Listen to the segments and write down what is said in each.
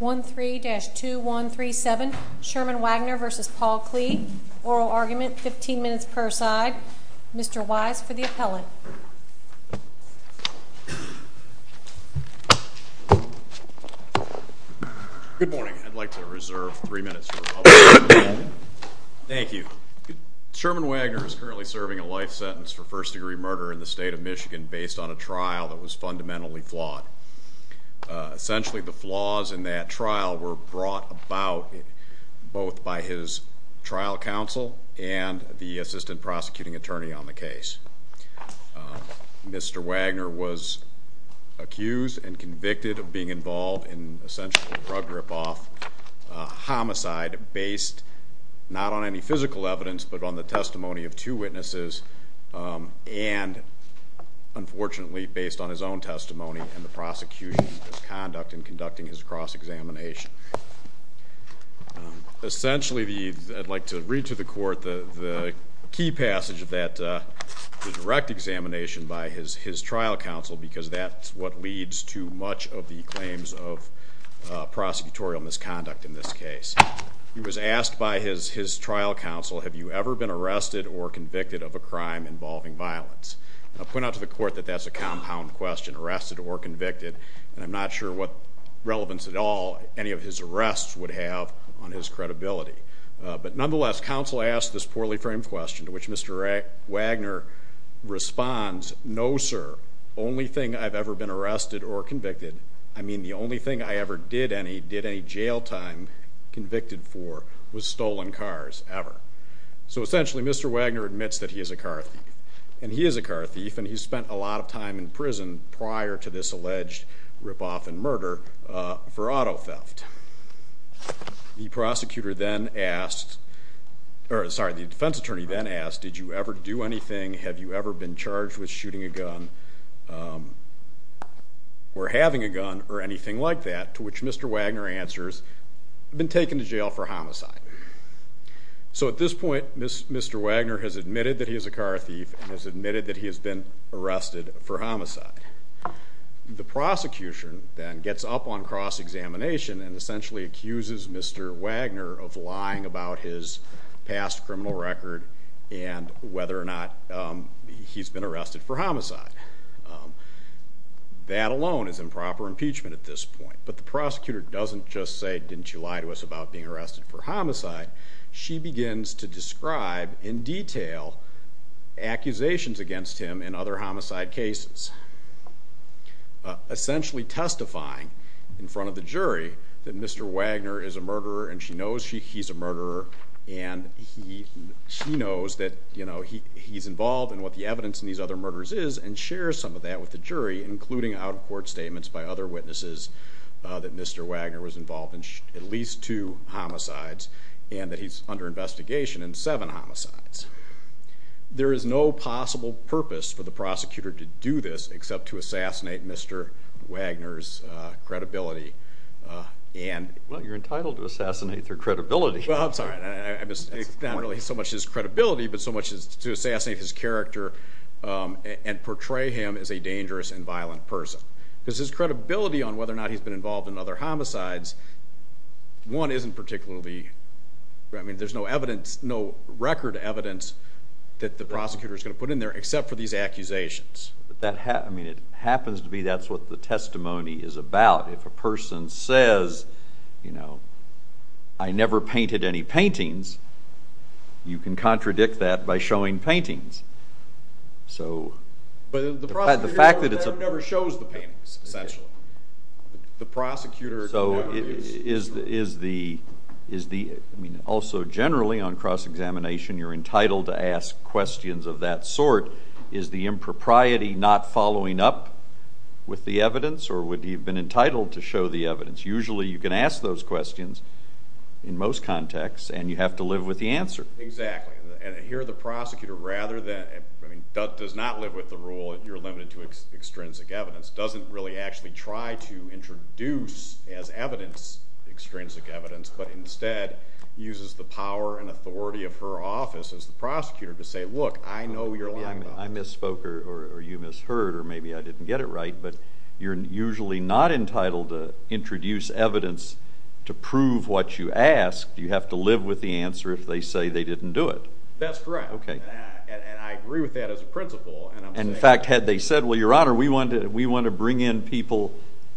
1-3-2-1-3-7 Sherman Wagner v. Paul Klee Oral argument, 15 minutes per side Mr. Wise for the appellate Good morning, I'd like to reserve 3 minutes for public comment Thank you Sherman Wagner is currently serving a life sentence for first degree murder in the state of Michigan based on a trial that was fundamentally flawed Essentially the flaws in that trial were brought about both by his trial counsel and the assistant prosecuting attorney on the case Mr. Wagner was accused and convicted of being involved in essentially a drug rip-off, a homicide based not on any physical evidence but on the testimony of two witnesses and, unfortunately, based on his own testimony and the prosecution's misconduct in conducting his cross-examination Essentially, I'd like to read to the court the key passage of that direct examination by his trial counsel because that's what leads to much of the claims of prosecutorial misconduct in this case He was asked by his trial counsel, have you ever been arrested or convicted of a crime involving violence? I'll point out to the court that that's a compound question, arrested or convicted and I'm not sure what relevance at all any of his arrests would have on his credibility But nonetheless, counsel asked this poorly framed question to which Mr. Wagner responds No sir, only thing I've ever been arrested or convicted I mean, the only thing I ever did any jail time convicted for was stolen cars, ever So essentially, Mr. Wagner admits that he is a car thief and he is a car thief and he spent a lot of time in prison prior to this alleged rip-off and murder for auto theft The defense attorney then asked, did you ever do anything? Have you ever been charged with shooting a gun? or having a gun or anything like that to which Mr. Wagner answers, been taken to jail for homicide So at this point, Mr. Wagner has admitted that he is a car thief and has admitted that he has been arrested for homicide The prosecution then gets up on cross-examination and essentially accuses Mr. Wagner of lying about his past criminal record and whether or not he's been arrested for homicide That alone is improper impeachment at this point But the prosecutor doesn't just say, didn't you lie to us about being arrested for homicide She begins to describe in detail accusations against him in other homicide cases Essentially testifying in front of the jury that Mr. Wagner is a murderer and she knows he's a murderer and she knows that he's involved in what the evidence in these other murders is and shares some of that with the jury including out-of-court statements by other witnesses that Mr. Wagner was involved in at least two homicides and that he's under investigation in seven homicides There is no possible purpose for the prosecutor to do this except to assassinate Mr. Wagner's credibility Well, you're entitled to assassinate their credibility Well, I'm sorry, not really so much his credibility but so much to assassinate his character and portray him as a dangerous and violent person Because his credibility on whether or not he's been involved in other homicides one isn't particularly, I mean, there's no evidence no record evidence that the prosecutor is going to put in there except for these accusations I mean, it happens to be that's what the testimony is about If a person says, you know, I never painted any paintings you can contradict that by showing paintings So... But the prosecutor never shows the paintings, essentially The prosecutor... So is the... I mean, also generally on cross-examination you're entitled to ask questions of that sort Is the impropriety not following up with the evidence or would he have been entitled to show the evidence Usually you can ask those questions in most contexts and you have to live with the answer Exactly And here the prosecutor rather than... I mean, does not live with the rule that you're limited to extrinsic evidence doesn't really actually try to introduce as evidence extrinsic evidence but instead uses the power and authority of her office as the prosecutor to say, look, I know you're lying about it I misspoke or you misheard or maybe I didn't get it right but you're usually not entitled to introduce evidence to prove what you asked You have to live with the answer if they say they didn't do it That's correct And I agree with that as a principle And in fact, had they said, well, your honor, we want to bring in people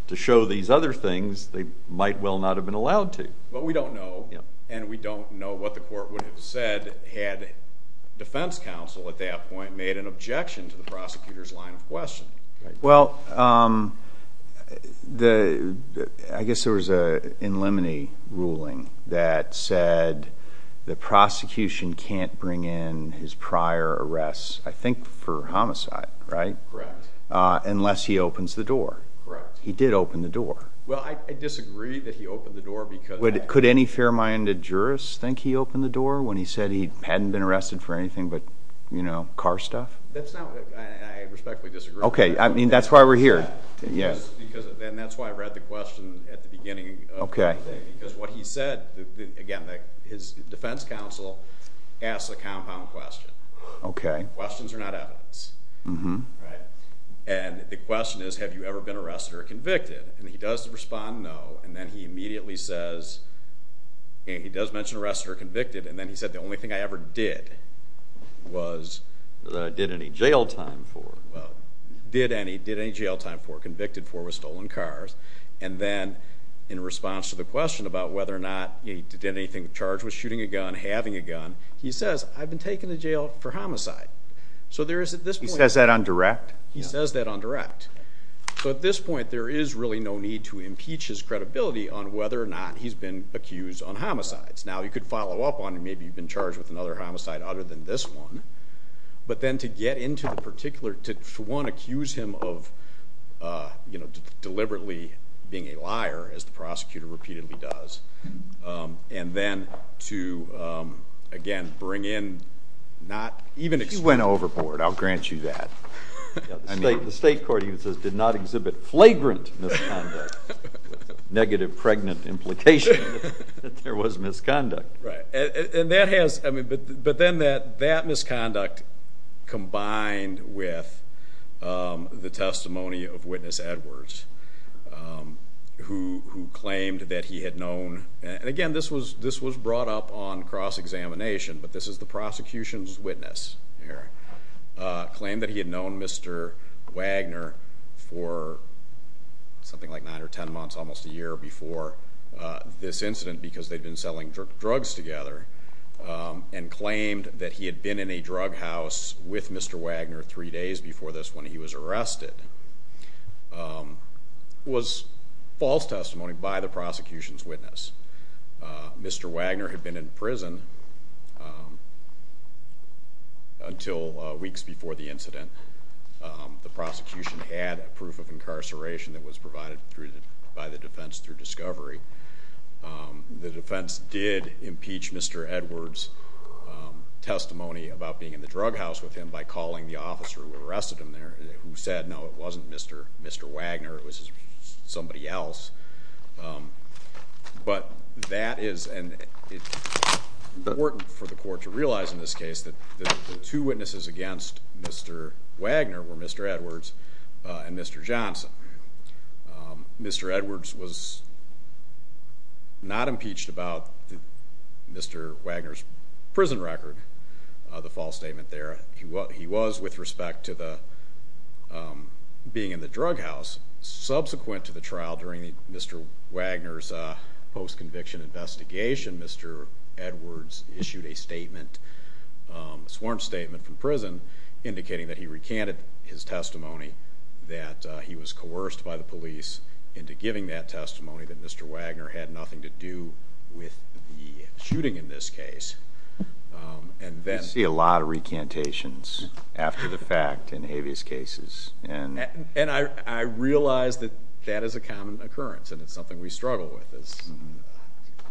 to show these other things they might well not have been allowed to But we don't know and we don't know what the court would have said had defense counsel at that point made an objection to the prosecutor's line of questioning Well, I guess there was an in limine ruling that said the prosecution can't bring in his prior arrests I think for homicide, right? Correct Unless he opens the door Correct He did open the door Well, I disagree that he opened the door because... Could any fair-minded jurist think he opened the door when he said he hadn't been arrested for anything but, you know, car stuff? I respectfully disagree Okay, I mean, that's why we're here Yes, and that's why I read the question at the beginning Okay Because what he said, again, his defense counsel asked a compound question Okay Questions are not evidence And the question is, have you ever been arrested or convicted? And he does respond, no And then he immediately says, he does mention arrested or convicted And then he said, the only thing I ever did was... Did any jail time for Well, did any jail time for, convicted for with stolen cars And then, in response to the question about whether or not he did anything charged with shooting a gun, having a gun He says, I've been taken to jail for homicide So there is, at this point... He says that on direct? He says that on direct So at this point, there is really no need to impeach his credibility on whether or not he's been accused on homicides Now, you could follow up on it, maybe you've been charged with another homicide other than this one But then to get into the particular... To, one, accuse him of, you know, deliberately being a liar, as the prosecutor repeatedly does And then to, again, bring in not... He went overboard, I'll grant you that The state court even says, did not exhibit flagrant misconduct Negative pregnant implication that there was misconduct And that has... But then that misconduct combined with the testimony of Witness Edwards Who claimed that he had known... And again, this was brought up on cross-examination But this is the prosecution's witness Claimed that he had known Mr. Wagner for something like nine or ten months, almost a year before this incident Because they'd been selling drugs together And claimed that he had been in a drug house with Mr. Wagner three days before this when he was arrested Was false testimony by the prosecution's witness Mr. Wagner had been in prison Until weeks before the incident The prosecution had a proof of incarceration that was provided by the defense through discovery The defense did impeach Mr. Edwards' testimony about being in the drug house with him By calling the officer who arrested him there Who said, no, it wasn't Mr. Wagner, it was somebody else But that is... And it's important for the court to realize in this case That the two witnesses against Mr. Wagner were Mr. Edwards and Mr. Johnson Mr. Edwards was not impeached about Mr. Wagner's prison record The false statement there He was with respect to being in the drug house Subsequent to the trial during Mr. Wagner's post-conviction investigation Mr. Edwards issued a sworn statement from prison Indicating that he recanted his testimony That he was coerced by the police into giving that testimony That Mr. Wagner had nothing to do with the shooting in this case You see a lot of recantations after the fact in habeas cases And I realize that that is a common occurrence And it's something we struggle with as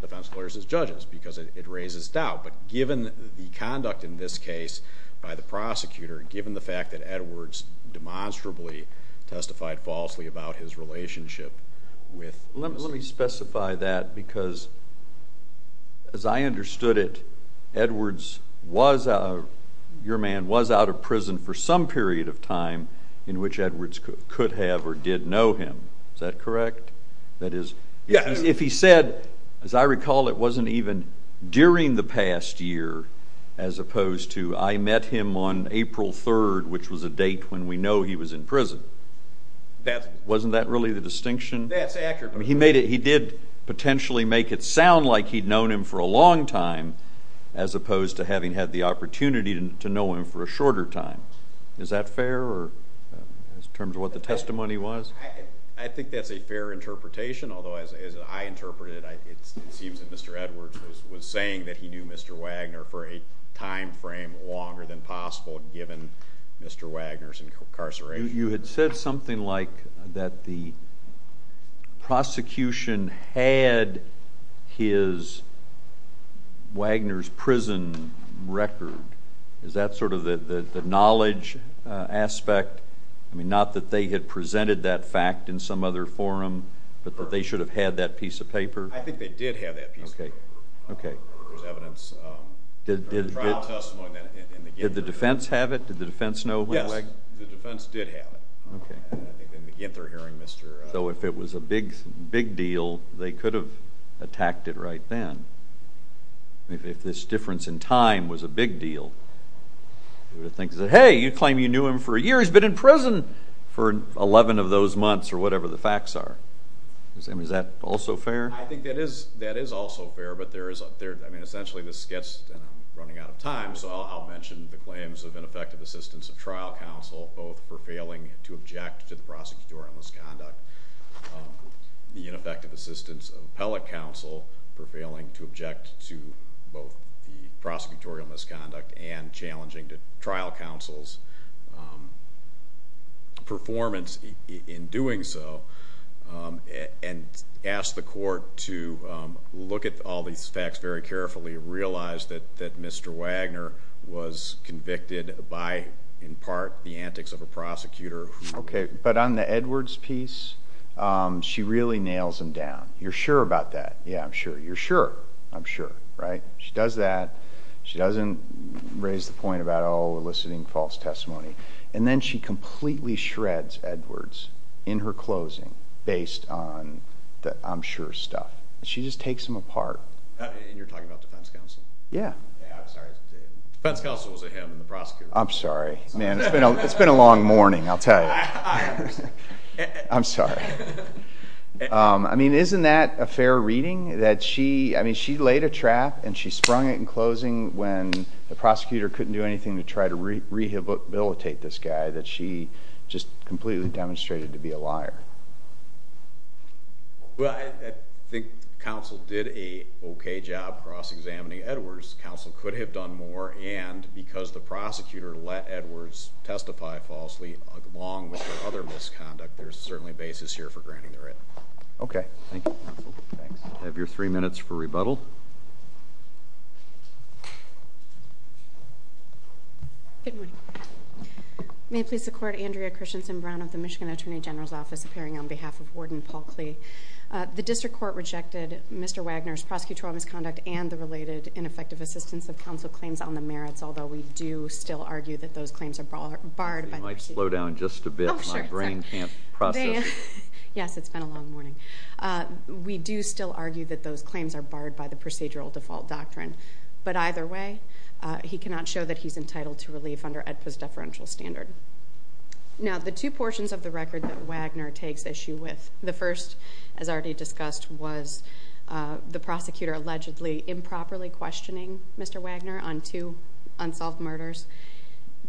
defense lawyers and judges Because it raises doubt But given the conduct in this case by the prosecutor Given the fact that Edwards demonstrably testified falsely about his relationship with... Let me specify that because As I understood it Edwards was... Your man was out of prison for some period of time In which Edwards could have or did know him Is that correct? That is... If he said... As I recall it wasn't even during the past year As opposed to I met him on April 3rd Which was a date when we know he was in prison Wasn't that really the distinction? That's accurate He did potentially make it sound like he'd known him for a long time As opposed to having had the opportunity to know him for a shorter time Is that fair? In terms of what the testimony was? I think that's a fair interpretation Although as I interpret it It seems that Mr. Edwards was saying that he knew Mr. Wagner For a time frame longer than possible Given Mr. Wagner's incarceration You had said something like that the Prosecution had his Wagner's prison record Is that sort of the knowledge aspect? I mean not that they had presented that fact in some other forum But that they should have had that piece of paper? I think they did have that piece of paper There was evidence Trial testimony Did the defense have it? Did the defense know? Yes, the defense did have it So if it was a big deal They could have attacked it right then If this difference in time was a big deal They would have said Hey, you claim you knew him for a year He's been in prison for 11 of those months Or whatever the facts are Is that also fair? I think that is also fair But essentially this gets And I'm running out of time So I'll mention the claims of ineffective assistance of trial counsel Both for failing to object to the prosecutorial misconduct The ineffective assistance of appellate counsel For failing to object to both the prosecutorial misconduct And challenging the trial counsel's performance in doing so And ask the court to look at all these facts very carefully Did the defense actually realize that Mr. Wagner Was convicted by, in part, the antics of a prosecutor? Okay, but on the Edwards piece She really nails him down You're sure about that? Yeah, I'm sure You're sure? I'm sure Right? She does that She doesn't raise the point about Oh, eliciting false testimony And then she completely shreds Edwards In her closing Based on the I'm sure stuff She just takes him apart And you're talking about defense counsel? Yeah Yeah, I'm sorry Defense counsel was a him and the prosecutor was a him I'm sorry It's been a long morning, I'll tell you I understand I'm sorry I mean, isn't that a fair reading? That she laid a trap And she sprung it in closing When the prosecutor couldn't do anything To try to rehabilitate this guy That she just completely demonstrated to be a liar Well, I think counsel did a okay job Cross-examining Edwards Counsel could have done more And because the prosecutor let Edwards testify falsely Along with her other misconduct There's certainly a basis here for granting the right Okay, thank you, counsel I have your three minutes for rebuttal May it please the court Andrea Christensen Brown of the Michigan Attorney General's Office Appearing on behalf of Warden Paul Klee The district court rejected Mr. Wagner's prosecutorial misconduct And the related ineffective assistance of counsel claims on the merits Although we do still argue that those claims are barred By the procedural default You might slow down just a bit My brain can't process it Yes, it's been a long morning We do still argue that those claims are barred By the procedural default doctrine But either way He cannot show that he's entitled to relief Under AEDPA's deferential standard Now, the two portions of the record that Wagner takes issue with The first, as already discussed Was the prosecutor allegedly improperly questioning Mr. Wagner On two unsolved murders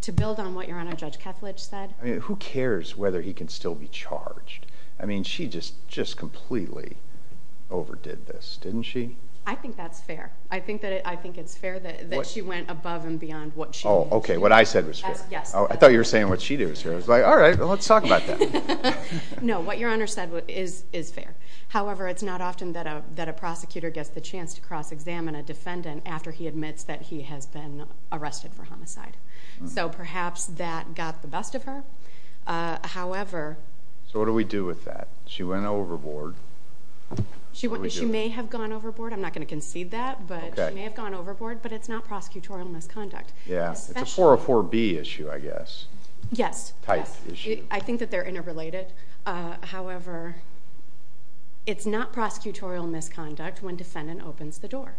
To build on what Your Honor, Judge Kethledge said I mean, who cares whether he can still be charged? I mean, she just completely overdid this, didn't she? I think that's fair I think it's fair that she went above and beyond what she did Oh, okay, what I said was fair Yes, yes I thought you were saying what she did was fair I was like, all right, let's talk about that No, what Your Honor said is fair However, it's not often that a prosecutor gets the chance To cross-examine a defendant After he admits that he has been arrested for homicide So perhaps that got the best of her However So what do we do with that? She went overboard She may have gone overboard I'm not going to concede that But she may have gone overboard But it's not prosecutorial misconduct Yeah, it's a 404B issue, I guess Yes Type issue I think that they're interrelated However, it's not prosecutorial misconduct When defendant opens the door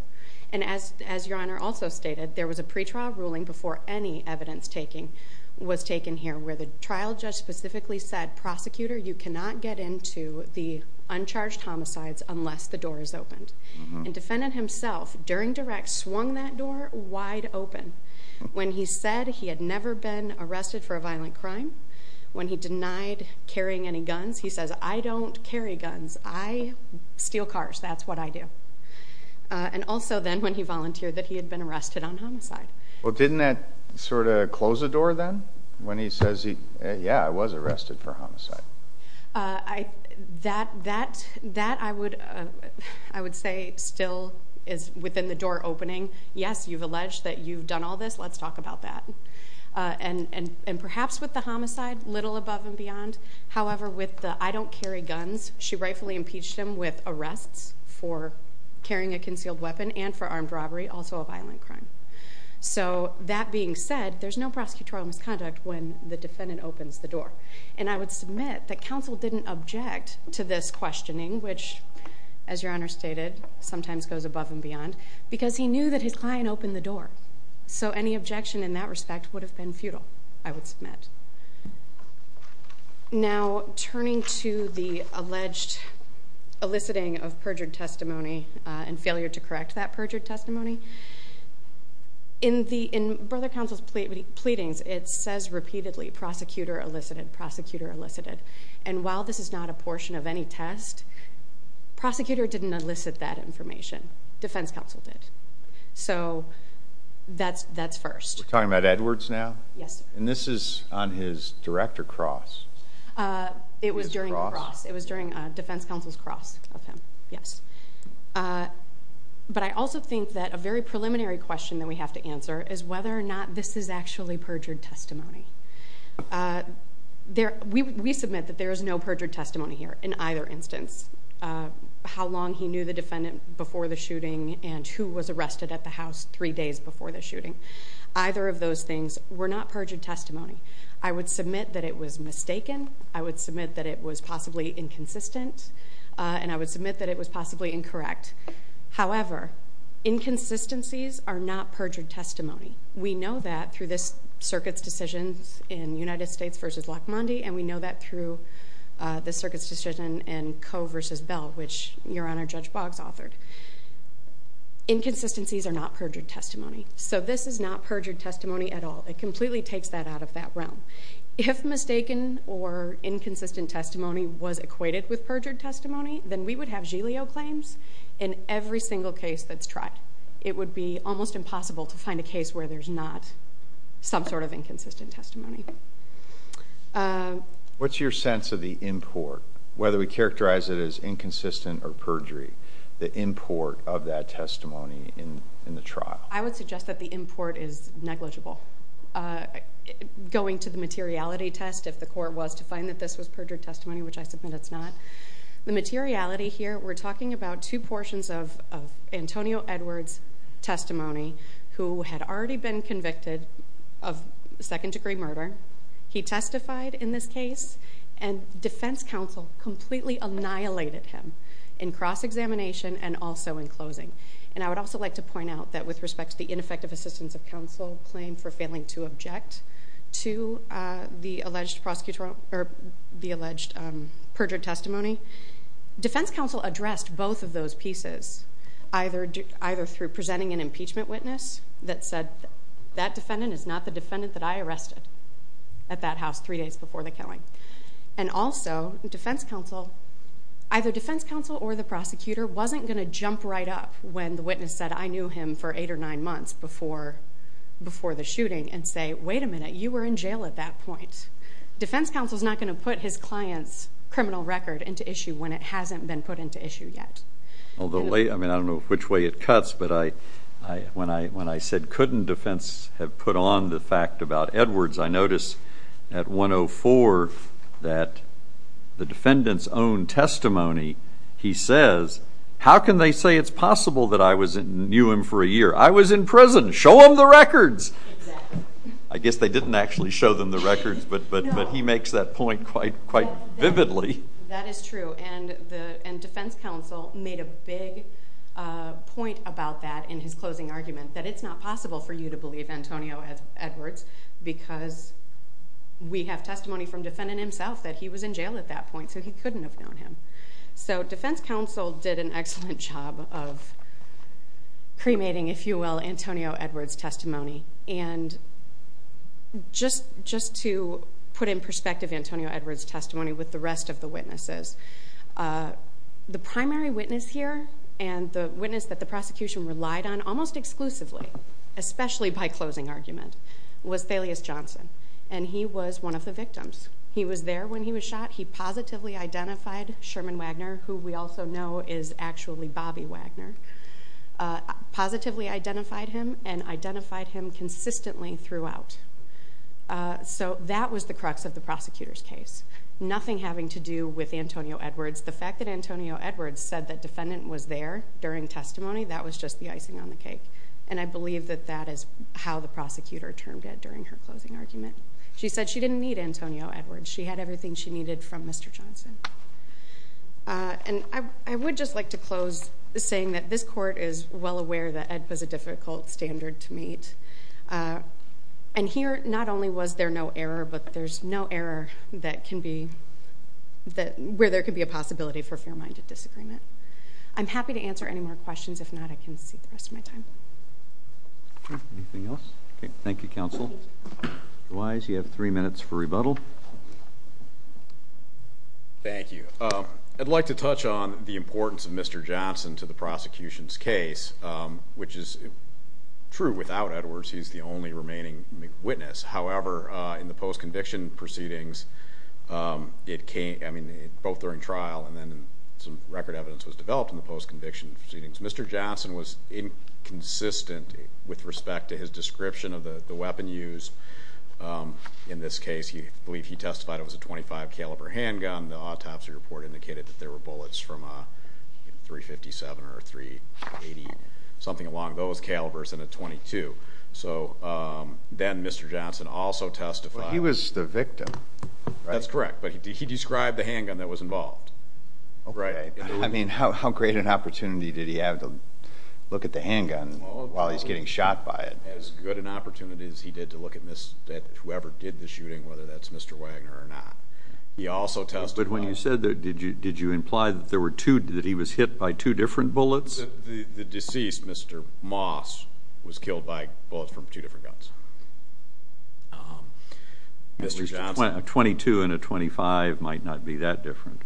And as Your Honor also stated There was a pretrial ruling before any evidence taking Was taken here Where the trial judge specifically said Prosecutor, you cannot get into the uncharged homicides Unless the door is opened And defendant himself, during direct Swung that door wide open When he said he had never been arrested for a violent crime When he denied carrying any guns He says, I don't carry guns I steal cars, that's what I do And also then when he volunteered That he had been arrested on homicide Well, didn't that sort of close the door then? When he says, yeah, I was arrested for homicide That I would say still is within the door opening Yes, you've alleged that you've done all this Let's talk about that And perhaps with the homicide Little above and beyond However, with the I don't carry guns She rightfully impeached him with arrests For carrying a concealed weapon And for armed robbery, also a violent crime So that being said There's no prosecutorial misconduct When the defendant opens the door And I would submit that Counsel didn't object To this questioning Which, as Your Honor stated Sometimes goes above and beyond Because he knew that his client opened the door So any objection in that respect Would have been futile, I would submit Now, turning to the alleged Eliciting of perjured testimony And failure to correct that perjured testimony In Brother Counsel's pleadings It says repeatedly, prosecutor elicited Prosecutor elicited And while this is not a portion of any test Prosecutor didn't elicit that information Defense Counsel did So, that's first We're talking about Edwards now? Yes And this is on his director cross It was during the cross It was during Defense Counsel's cross Of him, yes But I also think that A very preliminary question that we have to answer Is whether or not this is actually perjured testimony We submit that there is no perjured testimony here In either instance How long he knew the defendant Before the shooting And who was arrested at the house Three days before the shooting Either of those things were not perjured testimony I would submit that it was mistaken I would submit that it was possibly Inconsistent And I would submit that it was possibly incorrect However Inconsistencies are not perjured testimony We know that through this Circuit's decisions In United States vs. Lakhmandi And we know that through This Circuit's decision in Coe vs. Bell Which Your Honor Judge Boggs authored Inconsistencies are not perjured testimony So this is not perjured testimony at all It completely takes that out of that realm If mistaken Or inconsistent testimony Was equated with perjured testimony Then we would have Giglio claims In every single case that's tried It would be almost impossible To find a case where there's not Some sort of inconsistent testimony What's your sense of the import? Whether we characterize it as inconsistent Or perjury The import of that testimony in the trial I would suggest that the import Is negligible Going to the materiality test If the court was to find that this was perjured testimony Which I submit it's not The materiality here We're talking about two portions of Antonio Edwards testimony Who had already been convicted Of second degree murder He testified in this case And defense counsel Completely annihilated him In cross-examination And also in closing And I would also like to point out That with respect to the ineffective assistance of counsel Claim for failing to object To the alleged perjured testimony Defense counsel addressed Both of those pieces Either through presenting an impeachment witness That said That defendant is not the defendant that I arrested At that house three days before the killing And also Defense counsel Either defense counsel or the prosecutor Wasn't going to jump right up when the witness said I knew him for eight or nine months Before the shooting And say wait a minute you were in jail at that point Defense counsel is not going to put His client's criminal record into issue When it hasn't been put into issue yet Although I don't know which way it cuts But I When I said couldn't defense Have put on the fact about Edwards I notice at 104 That The defendant's own testimony He says How can they say it's possible that I knew him for a year I was in prison Show them the records I guess they didn't actually show them the records But he makes that point quite Vividly That is true and defense counsel Made a big Point about that in his closing argument That it's not possible for you to believe Antonio Edwards because We have testimony from Defendant himself that he was in jail at that point So he couldn't have known him So defense counsel did an excellent job Of Cremating if you will Antonio Edwards Testimony and Just To put in perspective Antonio Edwards testimony with the rest of the witnesses The Primary witness here and the Witness that the prosecution relied on Almost exclusively especially by Closing argument was Thelius Johnson and he was one of the Victims he was there when he was shot He positively identified Sherman Wagner who we also know is Actually Bobby Wagner Positively identified him And identified him consistently Throughout So that was the crux of the prosecutor's case Nothing having to do with Antonio Edwards the fact that Antonio Edwards Said that defendant was there during Testimony that was just the icing on the cake And I believe that that is How the prosecutor termed it during her closing Argument she said she didn't need Antonio Edwards she had everything she needed from Mr. Johnson And I would just like to close Saying that this court is Well aware that it was a difficult Standard to meet And here not only was there no Error but there's no error that Can be Where there can be a possibility for a fair minded Disagreement I'm happy to answer any more Questions if not I can cede the rest of my time Anything else Thank you counsel Otherwise you have three minutes for rebuttal Thank you I'd like to touch on the importance of Mr. Johnson to the prosecution's case Which is True without Edwards he's the only remaining Witness however In the post conviction proceedings It came Both during trial and then some record Evidence was developed in the post conviction Mr. Johnson was Inconsistent with respect to his Description of the weapon used In this case I believe he testified it was a .25 caliber Handgun the autopsy report indicated That there were bullets from .357 or .380 Something along those calibers And a .22 Then Mr. Johnson also testified He was the victim That's correct but he described the handgun That was involved I mean how great an opportunity Did he have to look at the handgun While he's getting shot by it As good an opportunity as he did to look at Whoever did the shooting Whether that's Mr. Wagner or not He also testified But when you said that did you imply That he was hit by two different bullets The deceased Mr. Moss Was killed by Bullets from two different guns Mr. Johnson A .22 and a .25 Might not be that different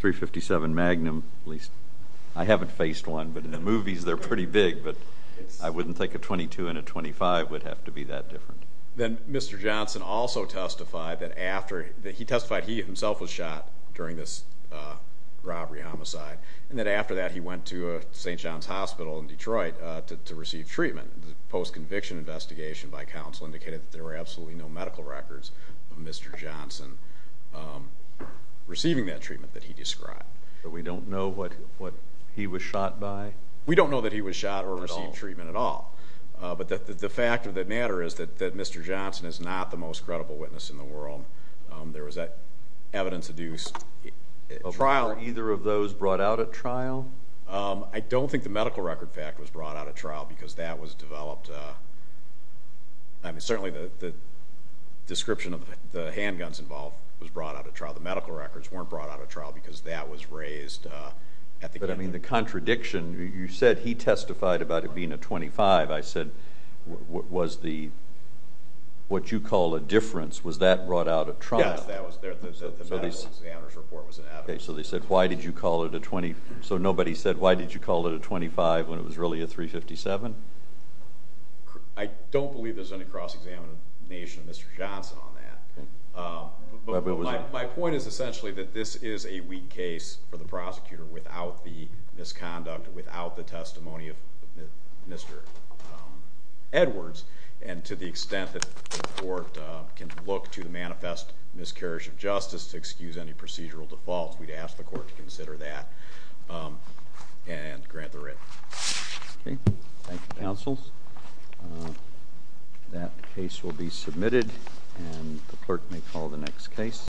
.357 magnum I haven't faced one but in the movies They're pretty big but I wouldn't think a .22 and a .25 Would have to be that different Then Mr. Johnson also testified That after He testified he himself was shot During this robbery homicide And that after that he went to St. John's Hospital in Detroit To receive treatment The post-conviction investigation by counsel Indicated that there were absolutely no medical records Of Mr. Johnson Receiving that treatment that he described But we don't know what he was shot by We don't know that he was shot Or received treatment at all But the fact of the matter Is that Mr. Johnson is not the most Credible witness in the world There was that evidence Of either of those Brought out at trial I don't think the medical record fact was brought out At trial because that was developed I mean certainly The description of the Handguns involved was brought out at trial The medical records weren't brought out at trial Because that was raised But I mean the contradiction You said he testified About it being a .25 I said What you call a difference Was that brought out at trial The medical examiner's report was Okay so they said Why did you call it a .25 When it was really a .357 I don't believe There's any cross-examination Of Mr. Johnson on that But my point is essentially That this is a weak case For the prosecutor without the Misconduct, without the testimony Of Mr. Edwards And to the extent That the court can Look to the manifest miscarriage of justice To excuse any procedural default We'd ask the court to consider that And grant the writ Thank you Counsel That case will be submitted And the clerk may call the next case